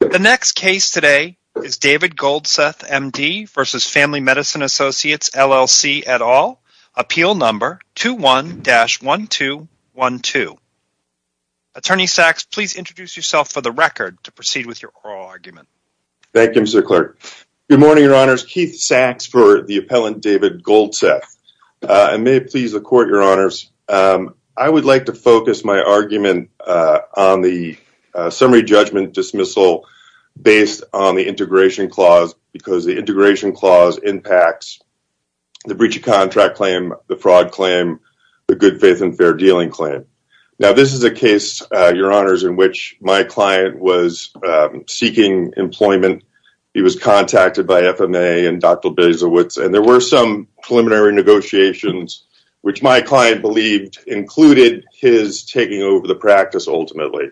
The next case today is David Goldseth, MD, versus Family Medicine Associates LLC et al. Appeal number 21-1212. Attorney Sachs, please introduce yourself for the record to proceed with your oral argument. Thank you, Mr. Clerk. Good morning, Your Honors. Keith Sachs for the appellant, David Goldseth. And may it please the Court, Your Honors, I would like to focus my argument on the summary judgment dismissal based on the integration clause because the integration clause impacts the breach of contract claim, the fraud claim, the good faith and fair dealing claim. Now, this is a case, Your Honors, in which my client was seeking employment. He was contacted by FMA and Dr. Bilzerowicz, and there were some preliminary negotiations which my client believed included his taking over the practice, ultimately.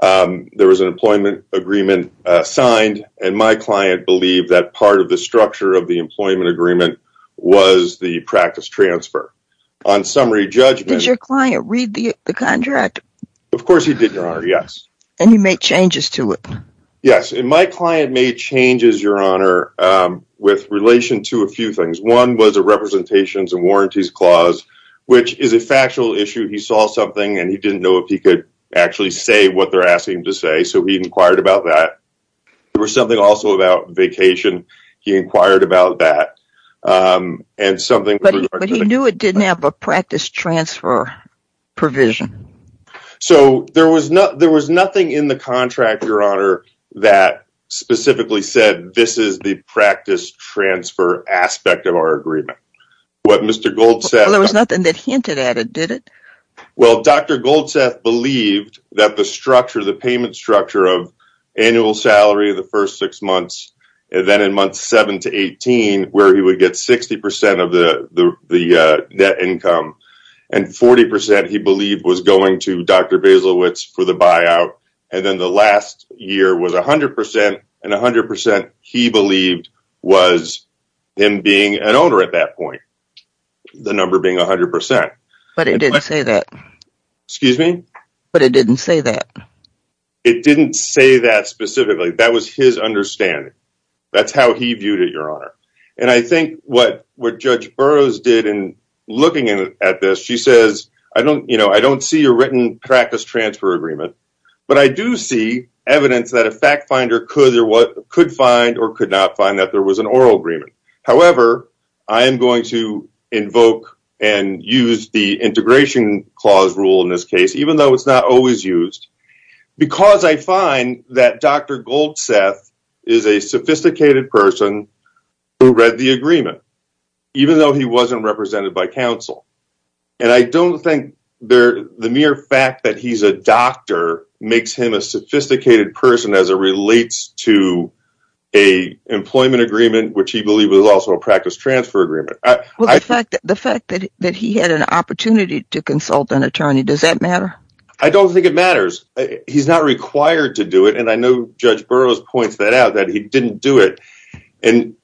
There was an employment agreement signed, and my client believed that part of the structure of the employment agreement was the practice transfer. On summary judgment... Did your client read the contract? Of course he did, Your Honor, yes. And he made changes to it? Yes, and my client made changes, Your Honor, with relation to a few things. One was a representations and warranties clause, which is a factual issue. He saw something, and he didn't know if he could actually say what they're asking him to say, so he inquired about that. There was something also about vacation. He inquired about that, and something... But he knew it didn't have a practice transfer provision. So there was nothing in the contract, Your Honor, that specifically said this is the practice transfer aspect of our agreement. What Mr. Gold said... There was nothing that hinted at it, did it? Well, Dr. Goldseth believed that the structure, the payment structure of annual salary the first six months, and then in month seven to eighteen, where he would get 60% of the net income, and 40%, he believed, was going to Dr. Basilewicz for the buyout, and then the last year was 100%, and 100%, he believed, was him being an owner at that point, the number being 100%. But it didn't say that. Excuse me? But it didn't say that. It didn't say that specifically. That was his understanding. That's how he viewed it, Your Honor. And I think what Judge Burroughs did in looking at this, she says, I don't see a written practice transfer agreement, but I do see evidence that a fact However, I am going to invoke and use the integration clause rule in this case, even though it's not always used, because I find that Dr. Goldseth is a sophisticated person who read the agreement, even though he wasn't represented by counsel. And I don't think the mere fact that he's a doctor makes him a sophisticated person as it relates to a employment agreement, which he believed was also a practice transfer agreement. The fact that he had an opportunity to consult an attorney, does that matter? I don't think it matters. He's not required to do it, and I know Judge Burroughs points that out, that he didn't do it. And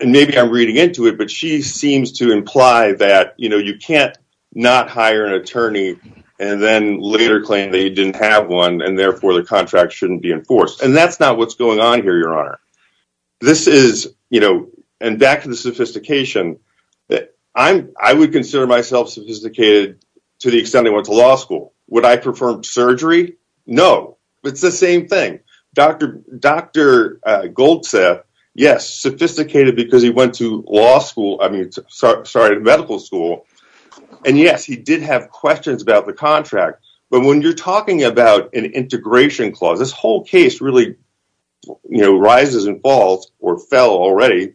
maybe I'm reading into it, but she seems to imply that you can't not hire an attorney, and then later claim that he didn't have one, and therefore the contract shouldn't be enforced. And that's not what's going on here, Your Honor. And back to the sophistication, I would consider myself sophisticated to the extent I went to law school. Would I perform surgery? No, it's the same thing. Dr. Goldseth, yes, sophisticated because he went to medical school, and yes, he did have questions about the contract. But when you're talking about an integration clause, this whole case really rises and falls or fell already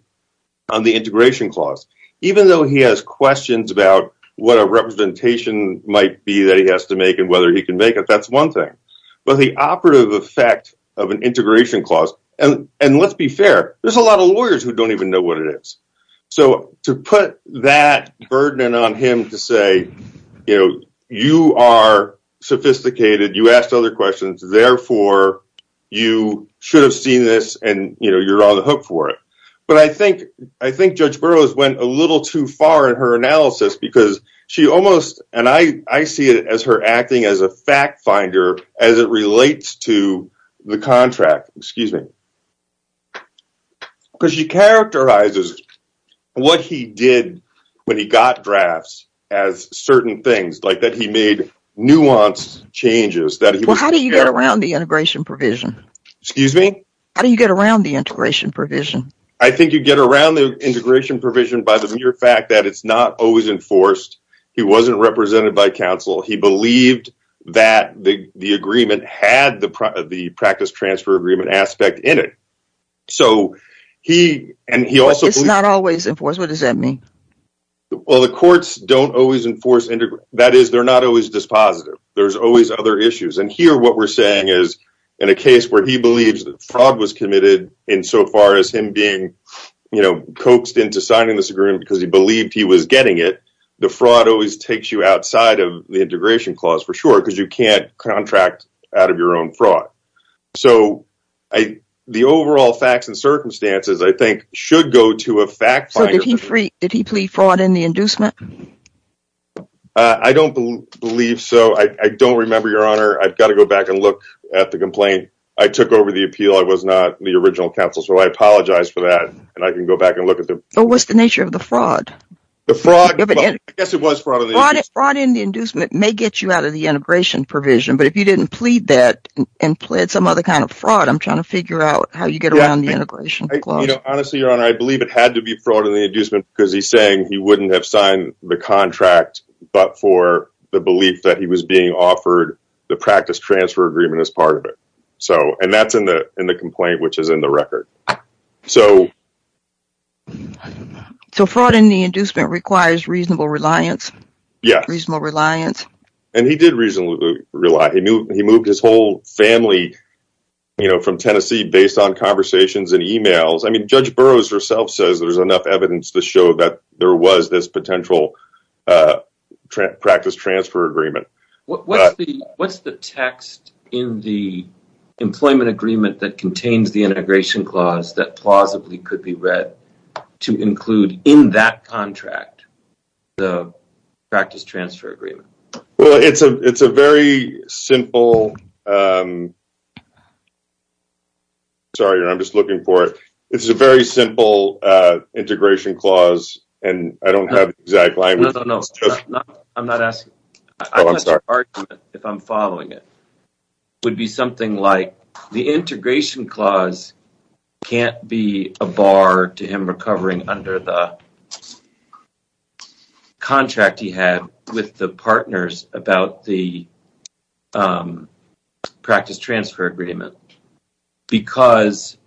on the integration clause. Even though he has questions about what a representation might be that he has to make and whether he can make it, that's one thing. But the operative effect of an integration clause, and let's be fair, there's a lot of lawyers who don't even know what it is. So to put that burden on him to say, you know, you are sophisticated, you asked other questions, therefore you should have seen this, and you're on the hook for it. But I think Judge Burroughs went a little too far in her analysis because she almost, and I see it as her acting as a fact finder as it relates to the contract, excuse me, because she characterizes what he did when he got drafts as certain things, like that he made nuanced changes. Well, how do you get around the integration provision? Excuse me? How do you get around the integration provision? I think you get around the integration provision by the mere fact that it's not always enforced. He wasn't represented by counsel. He believed that the agreement had the practice transfer agreement aspect in it. It's not always enforced? What does that mean? Well, the courts don't always enforce integration. That is, they're not always dispositive. There's always other issues. And here what we're saying is, in a case where he believes that fraud was committed insofar as him being coaxed into signing this agreement because he believed he was getting it, the fraud always takes you outside of the integration clause for sure because you can't contract out of your own fraud. So the overall facts and circumstances, I think, should go to a fact finder. So did he plead fraud in the inducement? I don't believe so. I don't remember, Your Honor. I've got to go back and look at the complaint. I took over the appeal. I was not the original counsel, so I apologize for that, and I can go back and look at the... But what's the nature of the fraud? The fraud... I guess it was fraud in the inducement. It may get you out of the integration provision, but if you didn't plead that and plead some other kind of fraud, I'm trying to figure out how you get around the integration clause. Honestly, Your Honor, I believe it had to be fraud in the inducement because he's saying he wouldn't have signed the contract, but for the belief that he was being offered the practice transfer agreement as part of it. And that's in the complaint, which is in the record. So... So fraud in the inducement requires reasonable reliance? Yeah. Reasonable reliance? And he did reasonably rely. He moved his whole family from Tennessee based on conversations and emails. I mean, Judge Burroughs herself says there's enough evidence to show that there was this potential practice transfer agreement. What's the text in the employment agreement that contains the integration clause that plausibly could be read to include in that contract the practice transfer agreement? Well, it's a very simple... Sorry, Your Honor, I'm just looking for it. It's a very simple integration clause, and I don't have the exact language. No, no, no. I'm not asking... Oh, I'm sorry. I want the argument, if I'm following it, would be something like the integration clause can't be a bar to him recovering under the contract he had with the partners about the practice transfer agreement because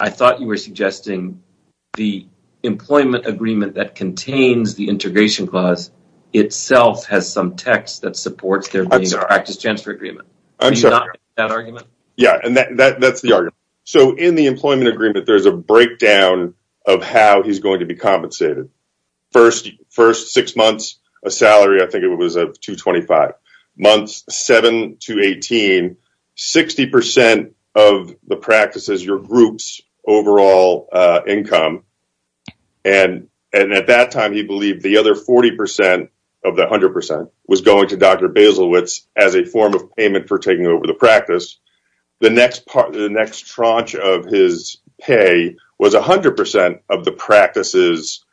I thought you were suggesting the employment agreement that contains the integration clause itself has some text that supports there being a practice transfer agreement. I'm sorry. Do you not agree with that argument? Yeah, and that's the argument. So in the employment agreement, there's a breakdown of how he's going to be compensated. First six months, a salary, I think it was of 225. Months seven to 18, 60% of the practice is your group's overall income. And at that time, he believed the other 40% of the 100% was going to Dr. Baselwitz as a form of payment for taking over the practice. The next part, the next tranche of his pay was 100% of the practice's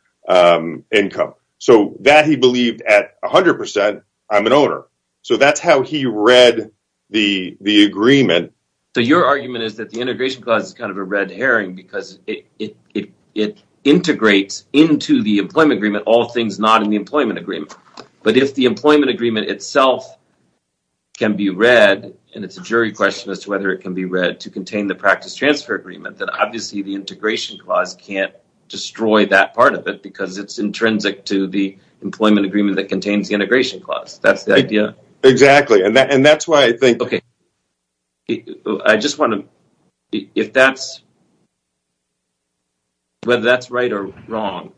income. So that he believed at 100%, I'm an owner. So that's how he read the agreement. So your argument is that the integration clause is kind of a red herring because it integrates into the employment agreement all things not in the employment agreement. But if the employment agreement itself can be read, and it's a jury question as to whether it can be read to contain the practice transfer agreement, then obviously the integration clause can't destroy that part of it because it's intrinsic to the employment agreement that contains the integration clause. That's the idea. Exactly. And that's why I think- Okay. I just want to, if that's, whether that's right or wrong,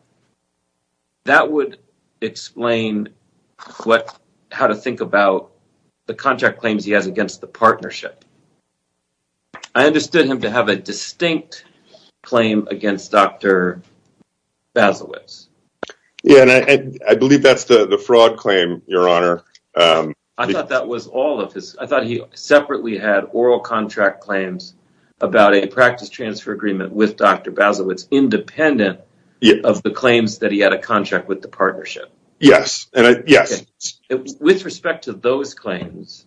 that would explain what, how to think about the contract claims he has against the partnership. I understood him to have a distinct claim against Dr. Baselwitz. Yeah, and I believe that's the fraud claim, your honor. I thought that was all of his, I thought he separately had oral contract claims about a practice transfer agreement with Dr. Baselwitz independent of the claims that he had a contract with the partnership. Yes. And I, yes. With respect to those claims,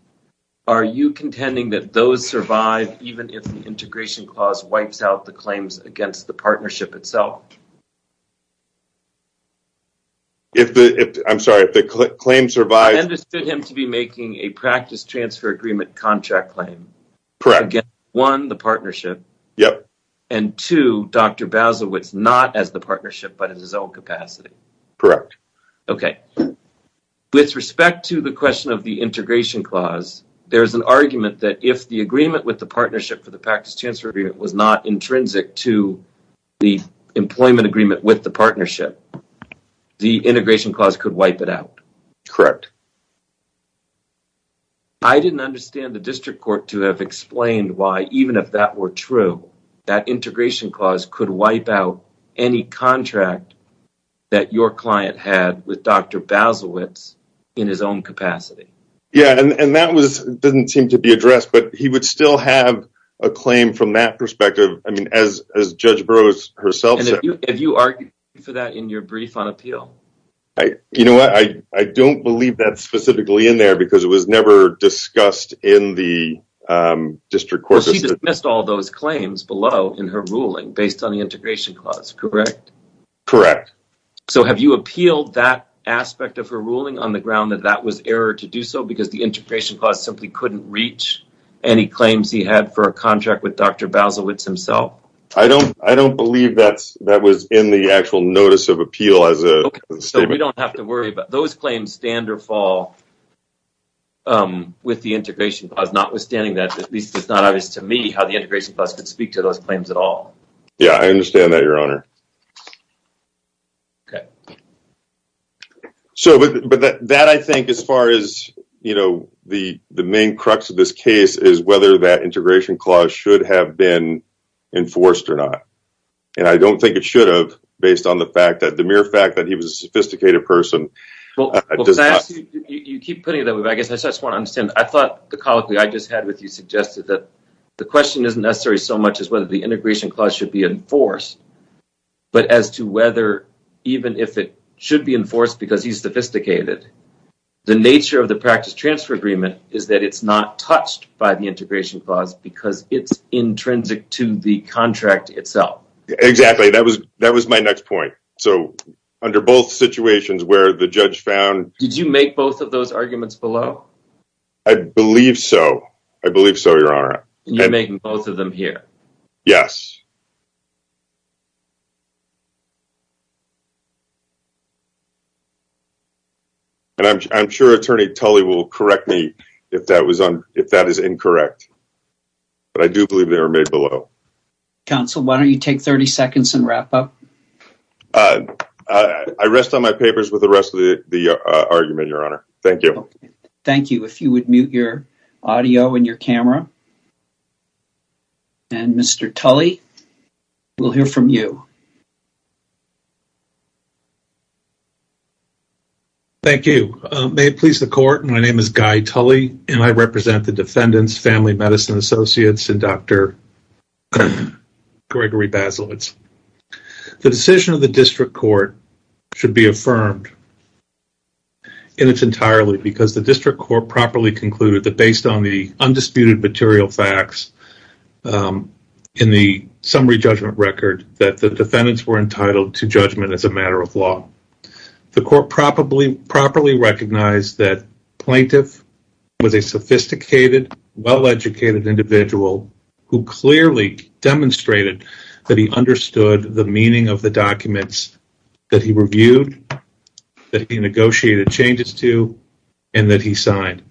are you contending that those survive even if the integration clause wipes out the claims against the partnership itself? If the, I'm sorry, if the claim survives- I understood him to be making a practice transfer agreement contract claim. Correct. Against, one, the partnership. Yep. And two, Dr. Baselwitz not as the partnership, but at his own capacity. Correct. Okay. With respect to the question of the integration clause, there's an argument that if the agreement with the partnership for the practice transfer agreement was not intrinsic to the employment agreement with the partnership, the integration clause could wipe it out. Correct. I didn't understand the district court to have explained why, even if that were true, that integration clause could wipe out any contract that your client had with Dr. Baselwitz in his own capacity. Yeah, and that was, doesn't seem to be addressed, but he would still have a claim from that perspective. I mean, as Judge Burroughs herself said- Have you argued for that in your brief on appeal? You know what? I don't believe that's specifically in there because it was never discussed in the district court. Well, she dismissed all those claims below in her ruling based on the integration clause, correct? Correct. So have you appealed that aspect of her ruling on the ground that that was error to do so because the integration clause simply couldn't reach any claims he had for a contract with Dr. Baselwitz himself? I don't believe that was in the actual notice of appeal as a statement. Okay, so we don't have to worry about those claims stand or fall with the integration clause, notwithstanding that, at least it's not obvious to me how the integration clause could speak to those claims at all. Yeah, I understand that, your honor. Okay. So, but that, I think, as far as, you know, the main crux of this case is whether that integration clause should have been enforced or not, and I don't think it should have, based on the fact that the mere fact that he was a sophisticated person does not- Well, because I ask you, you keep putting it that way, but I guess I just want to understand, I thought the colloquy I just had with you suggested that the question isn't necessary so much as whether the integration clause should be enforced, but as to whether even if it should be enforced because he's sophisticated, the nature of the practice transfer agreement is that it's not touched by the integration clause because it's intrinsic to the contract itself. Exactly. That was my next point. So, under both situations where the judge found- Did you make both of those arguments below? I believe so. I believe so, your honor. You're making both of them here? Yes. And I'm sure Attorney Tulley will correct me if that is incorrect. But I do believe they were made below. Counsel, why don't you take 30 seconds and wrap up? I rest on my papers with the rest of the argument, your honor. Thank you. Okay. Thank you. If you would mute your audio and your camera, and Mr. Tulley, we'll hear from you. Thank you. May it please the court. My name is Guy Tulley, and I represent the defendants, Family Medicine Associates, and Dr. Gregory Bazalwitz. The decision of the district court should be affirmed, and it's entirely because the district court properly concluded that based on the undisputed material facts in the summary judgment record that the defendants were entitled to judgment as a matter of law. The court properly recognized that Plaintiff was a sophisticated, well-educated individual who clearly demonstrated that he understood the meaning of the documents that he reviewed, that he negotiated changes to, and that he signed.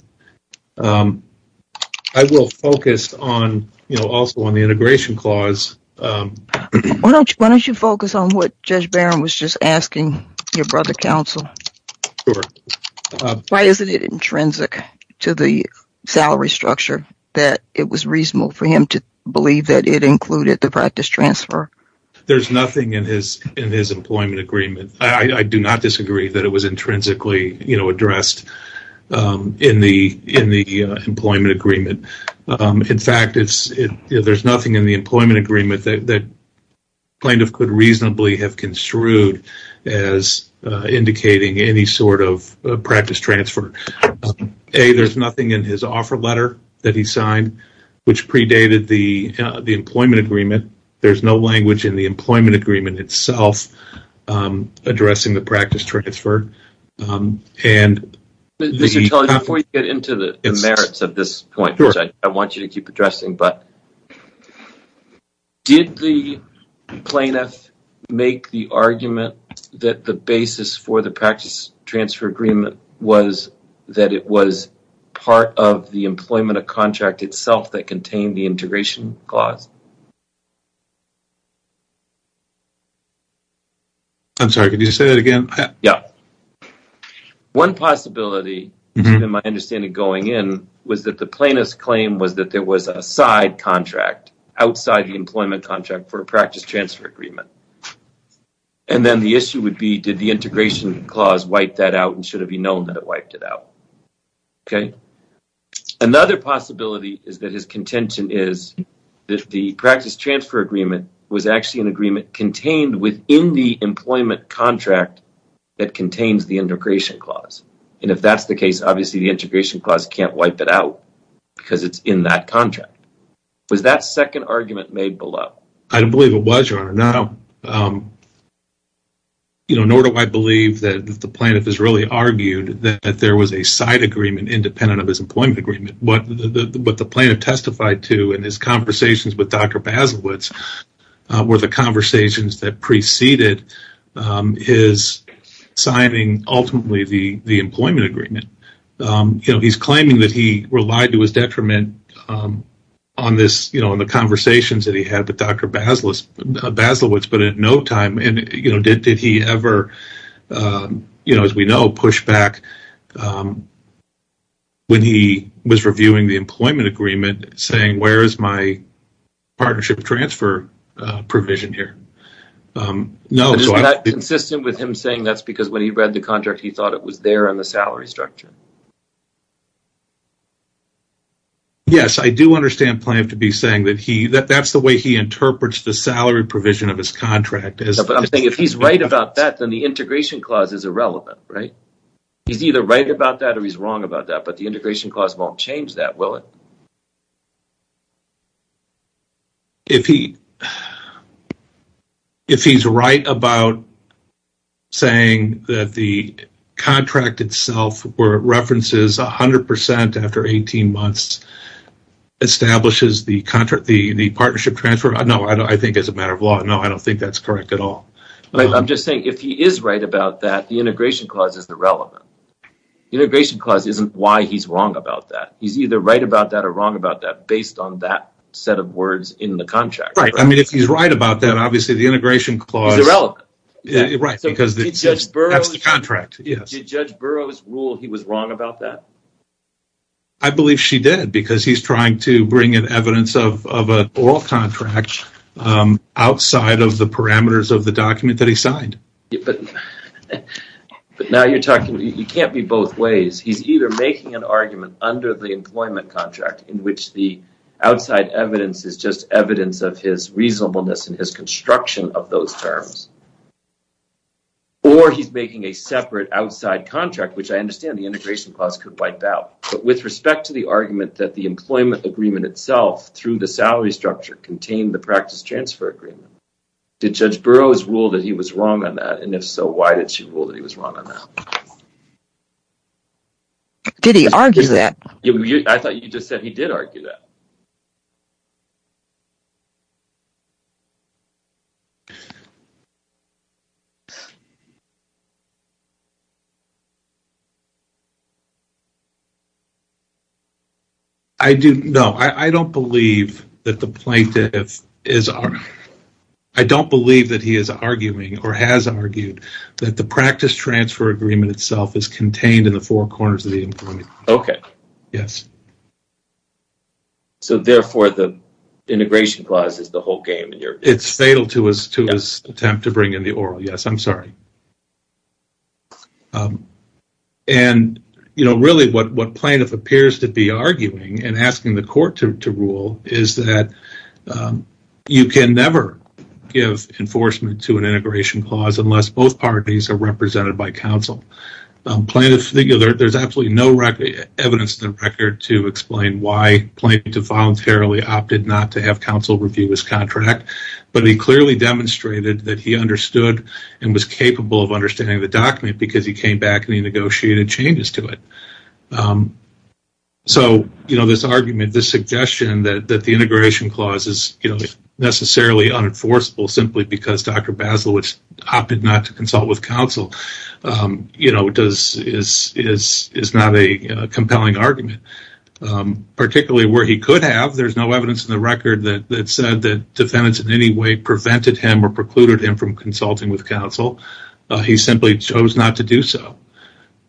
I will focus also on the integration clause. Why don't you focus on what Judge Barron was just asking your brother, Counsel? Why isn't it intrinsic to the salary structure that it was reasonable for him to believe that it included the practice transfer? There's nothing in his employment agreement. I do not disagree that it was intrinsically, you know, addressed in the employment agreement. In fact, there's nothing in the employment agreement that Plaintiff could reasonably have construed as indicating any sort of practice transfer. There's nothing in his offer letter that he signed which predated the employment agreement. There's no language in the employment agreement itself addressing the practice transfer. Before you get into the merits of this point, which I want you to keep addressing, but did the Plaintiff make the argument that the basis for the practice transfer agreement was that it was part of the employment of contract itself that contained the integration clause? I'm sorry, could you say that again? Yeah. One possibility, even my understanding going in, was that the plaintiff's claim was that there was a side contract outside the employment contract for a practice transfer agreement. And then the issue would be, did the integration clause wipe that out and should it be known that it wiped it out? Okay. Another possibility is that his contention is that the practice the integration clause. And if that's the case, obviously the integration clause can't wipe it out because it's in that contract. Was that second argument made below? I don't believe it was, Your Honor. Nor do I believe that the Plaintiff has really argued that there was a side agreement independent of his employment agreement. What the Plaintiff testified to in his conversations with ultimately the employment agreement, he's claiming that he relied to his detriment on the conversations that he had with Dr. Basilewicz, but at no time did he ever, you know, as we know, push back when he was reviewing the employment agreement, saying, where is my partnership transfer provision here? Is that consistent with him saying that's because when he read the contract, he thought it was there on the salary structure? Yes, I do understand Plaintiff to be saying that that's the way he interprets the salary provision of his contract. But I'm saying if he's right about that, then the integration clause is irrelevant, right? He's either right about that or he's wrong about that, but the integration clause won't change that, will it? If he's right about saying that the contract itself references 100% after 18 months establishes the partnership transfer, no, I think as a matter of law, no, I don't think that's correct at all. I'm just saying if he is right about that, the integration clause is irrelevant. The integration clause isn't why he's wrong about that. He's either right about that or wrong about that based on that set of words in the contract. Right. I mean, if he's right about that, obviously the integration clause is irrelevant, right? Because that's the contract. Did Judge Burroughs rule he was wrong about that? I believe she did because he's trying to bring in evidence of an oral contract outside of the parameters of the document that he signed. But now you're talking, you can't be both ways. He's either making an argument under the employment contract in which the outside evidence is just evidence of his reasonableness and his construction of those terms, or he's making a separate outside contract, which I understand the integration clause could wipe out. But with respect to the argument that the employment agreement itself through the salary structure contained the practice transfer agreement, did Judge Burroughs rule that he was wrong on that? And if so, why did she rule that he was wrong on that? Did he argue that? I thought you just said he did argue that. I do, no, I don't believe that the plaintiff is, I don't believe that he is arguing or has argued that the practice transfer agreement itself is contained in the four corners of the employment. Okay. Yes. So, therefore, the integration clause is the whole game in your opinion? To his attempt to bring in the oral, yes, I'm sorry. And, you know, really what plaintiff appears to be arguing and asking the court to rule is that you can never give enforcement to an integration clause unless both parties are represented by counsel. Plaintiff, there's absolutely no record, evidence in the record to explain why the plaintiff voluntarily opted not to have counsel review his contract, but he clearly demonstrated that he understood and was capable of understanding the document because he came back and he negotiated changes to it. So, you know, this argument, this suggestion that the integration clause is, you know, necessarily unenforceable simply because Dr. Bazalwich opted not to he could have, there's no evidence in the record that said that defendants in any way prevented him or precluded him from consulting with counsel. He simply chose not to do so.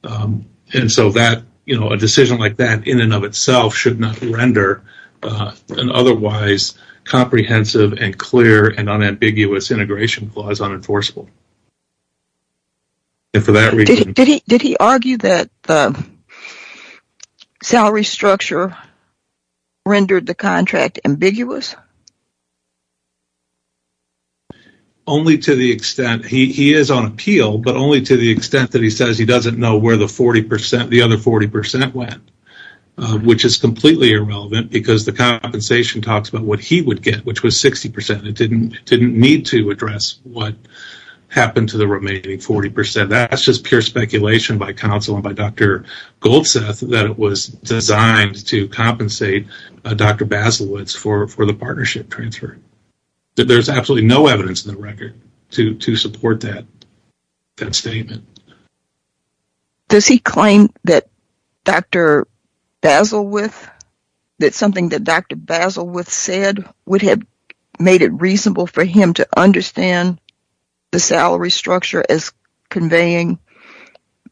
And so that, you know, a decision like that in and of itself should not render an otherwise comprehensive and clear and unambiguous integration clause unenforceable. And for that reason... Did he argue that the salary structure rendered the contract ambiguous? Only to the extent, he is on appeal, but only to the extent that he says he doesn't know where the 40%, the other 40% went, which is completely irrelevant because the compensation talks about he would get, which was 60%. It didn't need to address what happened to the remaining 40%. That's just pure speculation by counsel and by Dr. Goldseth that it was designed to compensate Dr. Bazalwich for the partnership transfer. There's absolutely no evidence in the record to support that statement. Does he claim that Dr. Bazalwich, that something that Dr. Bazalwich said would have made it reasonable for him to understand the salary structure as conveying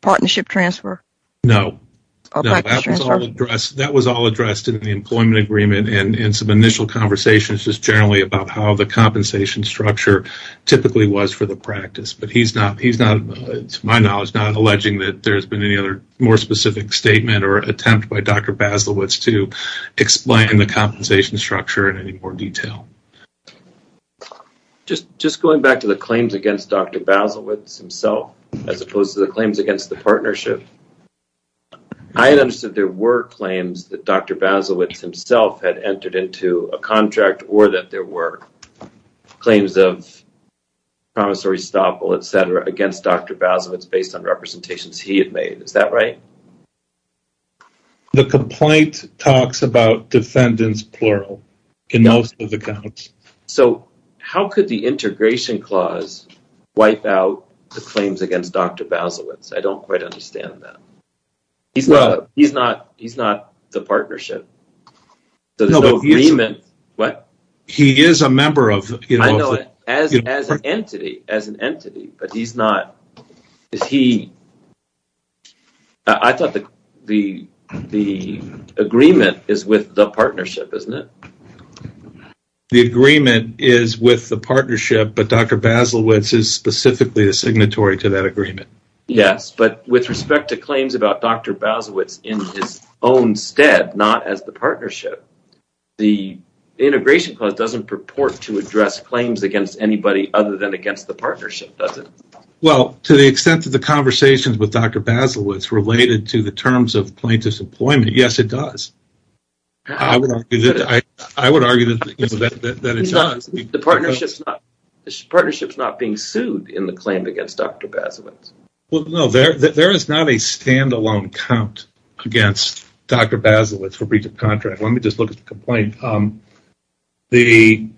partnership transfer? No. That was all addressed in the employment agreement and in some initial conversations just generally about how the compensation structure typically was for the practice. But he's not, to my knowledge, not to explain the compensation structure in any more detail. Just going back to the claims against Dr. Bazalwich himself, as opposed to the claims against the partnership, I had understood there were claims that Dr. Bazalwich himself had entered into a contract or that there were claims of promissory stop against Dr. Bazalwich based on representations he had made. Is that right? The complaint talks about defendants, plural, in most of the accounts. So how could the integration clause wipe out the claims against Dr. Bazalwich? I don't quite understand that. He's not the partnership. So there's no agreement. What? He is a member of... I know it as an entity, but he's not... I thought the agreement is with the partnership, isn't it? The agreement is with the partnership, but Dr. Bazalwich is specifically a signatory to that partnership. The integration clause doesn't purport to address claims against anybody other than against the partnership, does it? Well, to the extent of the conversations with Dr. Bazalwich related to the terms of plaintiff's employment, yes, it does. I would argue that it does. The partnership's not being sued in the claim against Dr. Bazalwich. Well, no, there is not a standalone count against Dr. Bazalwich for breach of contract. Let me just look at the complaint. It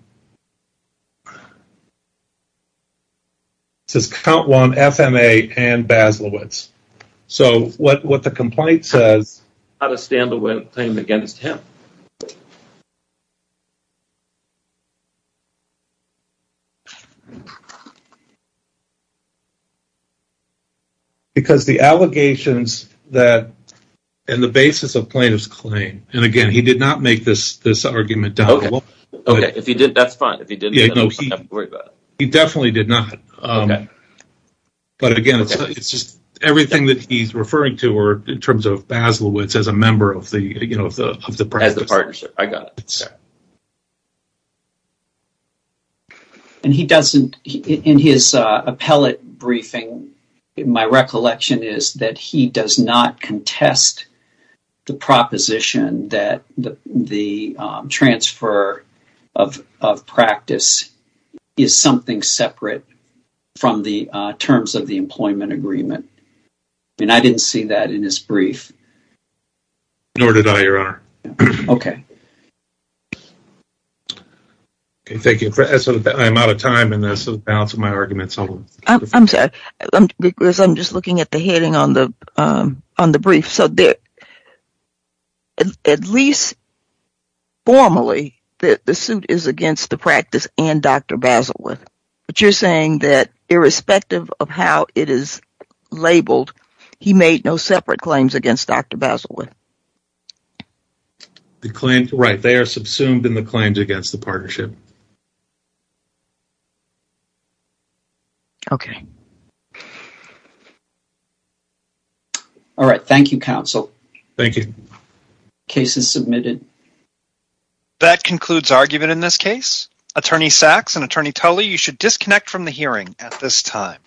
says count one, FMA and Bazalwich. So what the complaint says... Not a standalone claim against him. Because the allegations and the basis of plaintiff's claim... And again, he did not make this argument down... Okay, that's fine. If he didn't, then I don't have to worry about it. He definitely did not. But again, it's just everything that he's referring to in terms of Bazalwich as a member of the partnership. As the partnership. I got it. Okay. And he doesn't... In his appellate briefing, my recollection is that he does not contest the proposition that the transfer of practice is something separate from the terms of the employment agreement. And I didn't see that in his brief. Nor did I, your honor. Okay. Okay, thank you. I'm out of time, and that's the balance of my arguments. I'm sorry, because I'm just looking at the heading on the brief. So at least formally, the suit is against the practice and Dr. Bazalwich. But you're saying that irrespective of how it is labeled, he made no separate claims against Dr. Bazalwich? Right. They are subsumed in the claims against the partnership. Okay. All right. Thank you, counsel. Thank you. Case is submitted. That concludes argument in this case. Attorney Sachs and Attorney Toley, you should disconnect from the hearing at this time.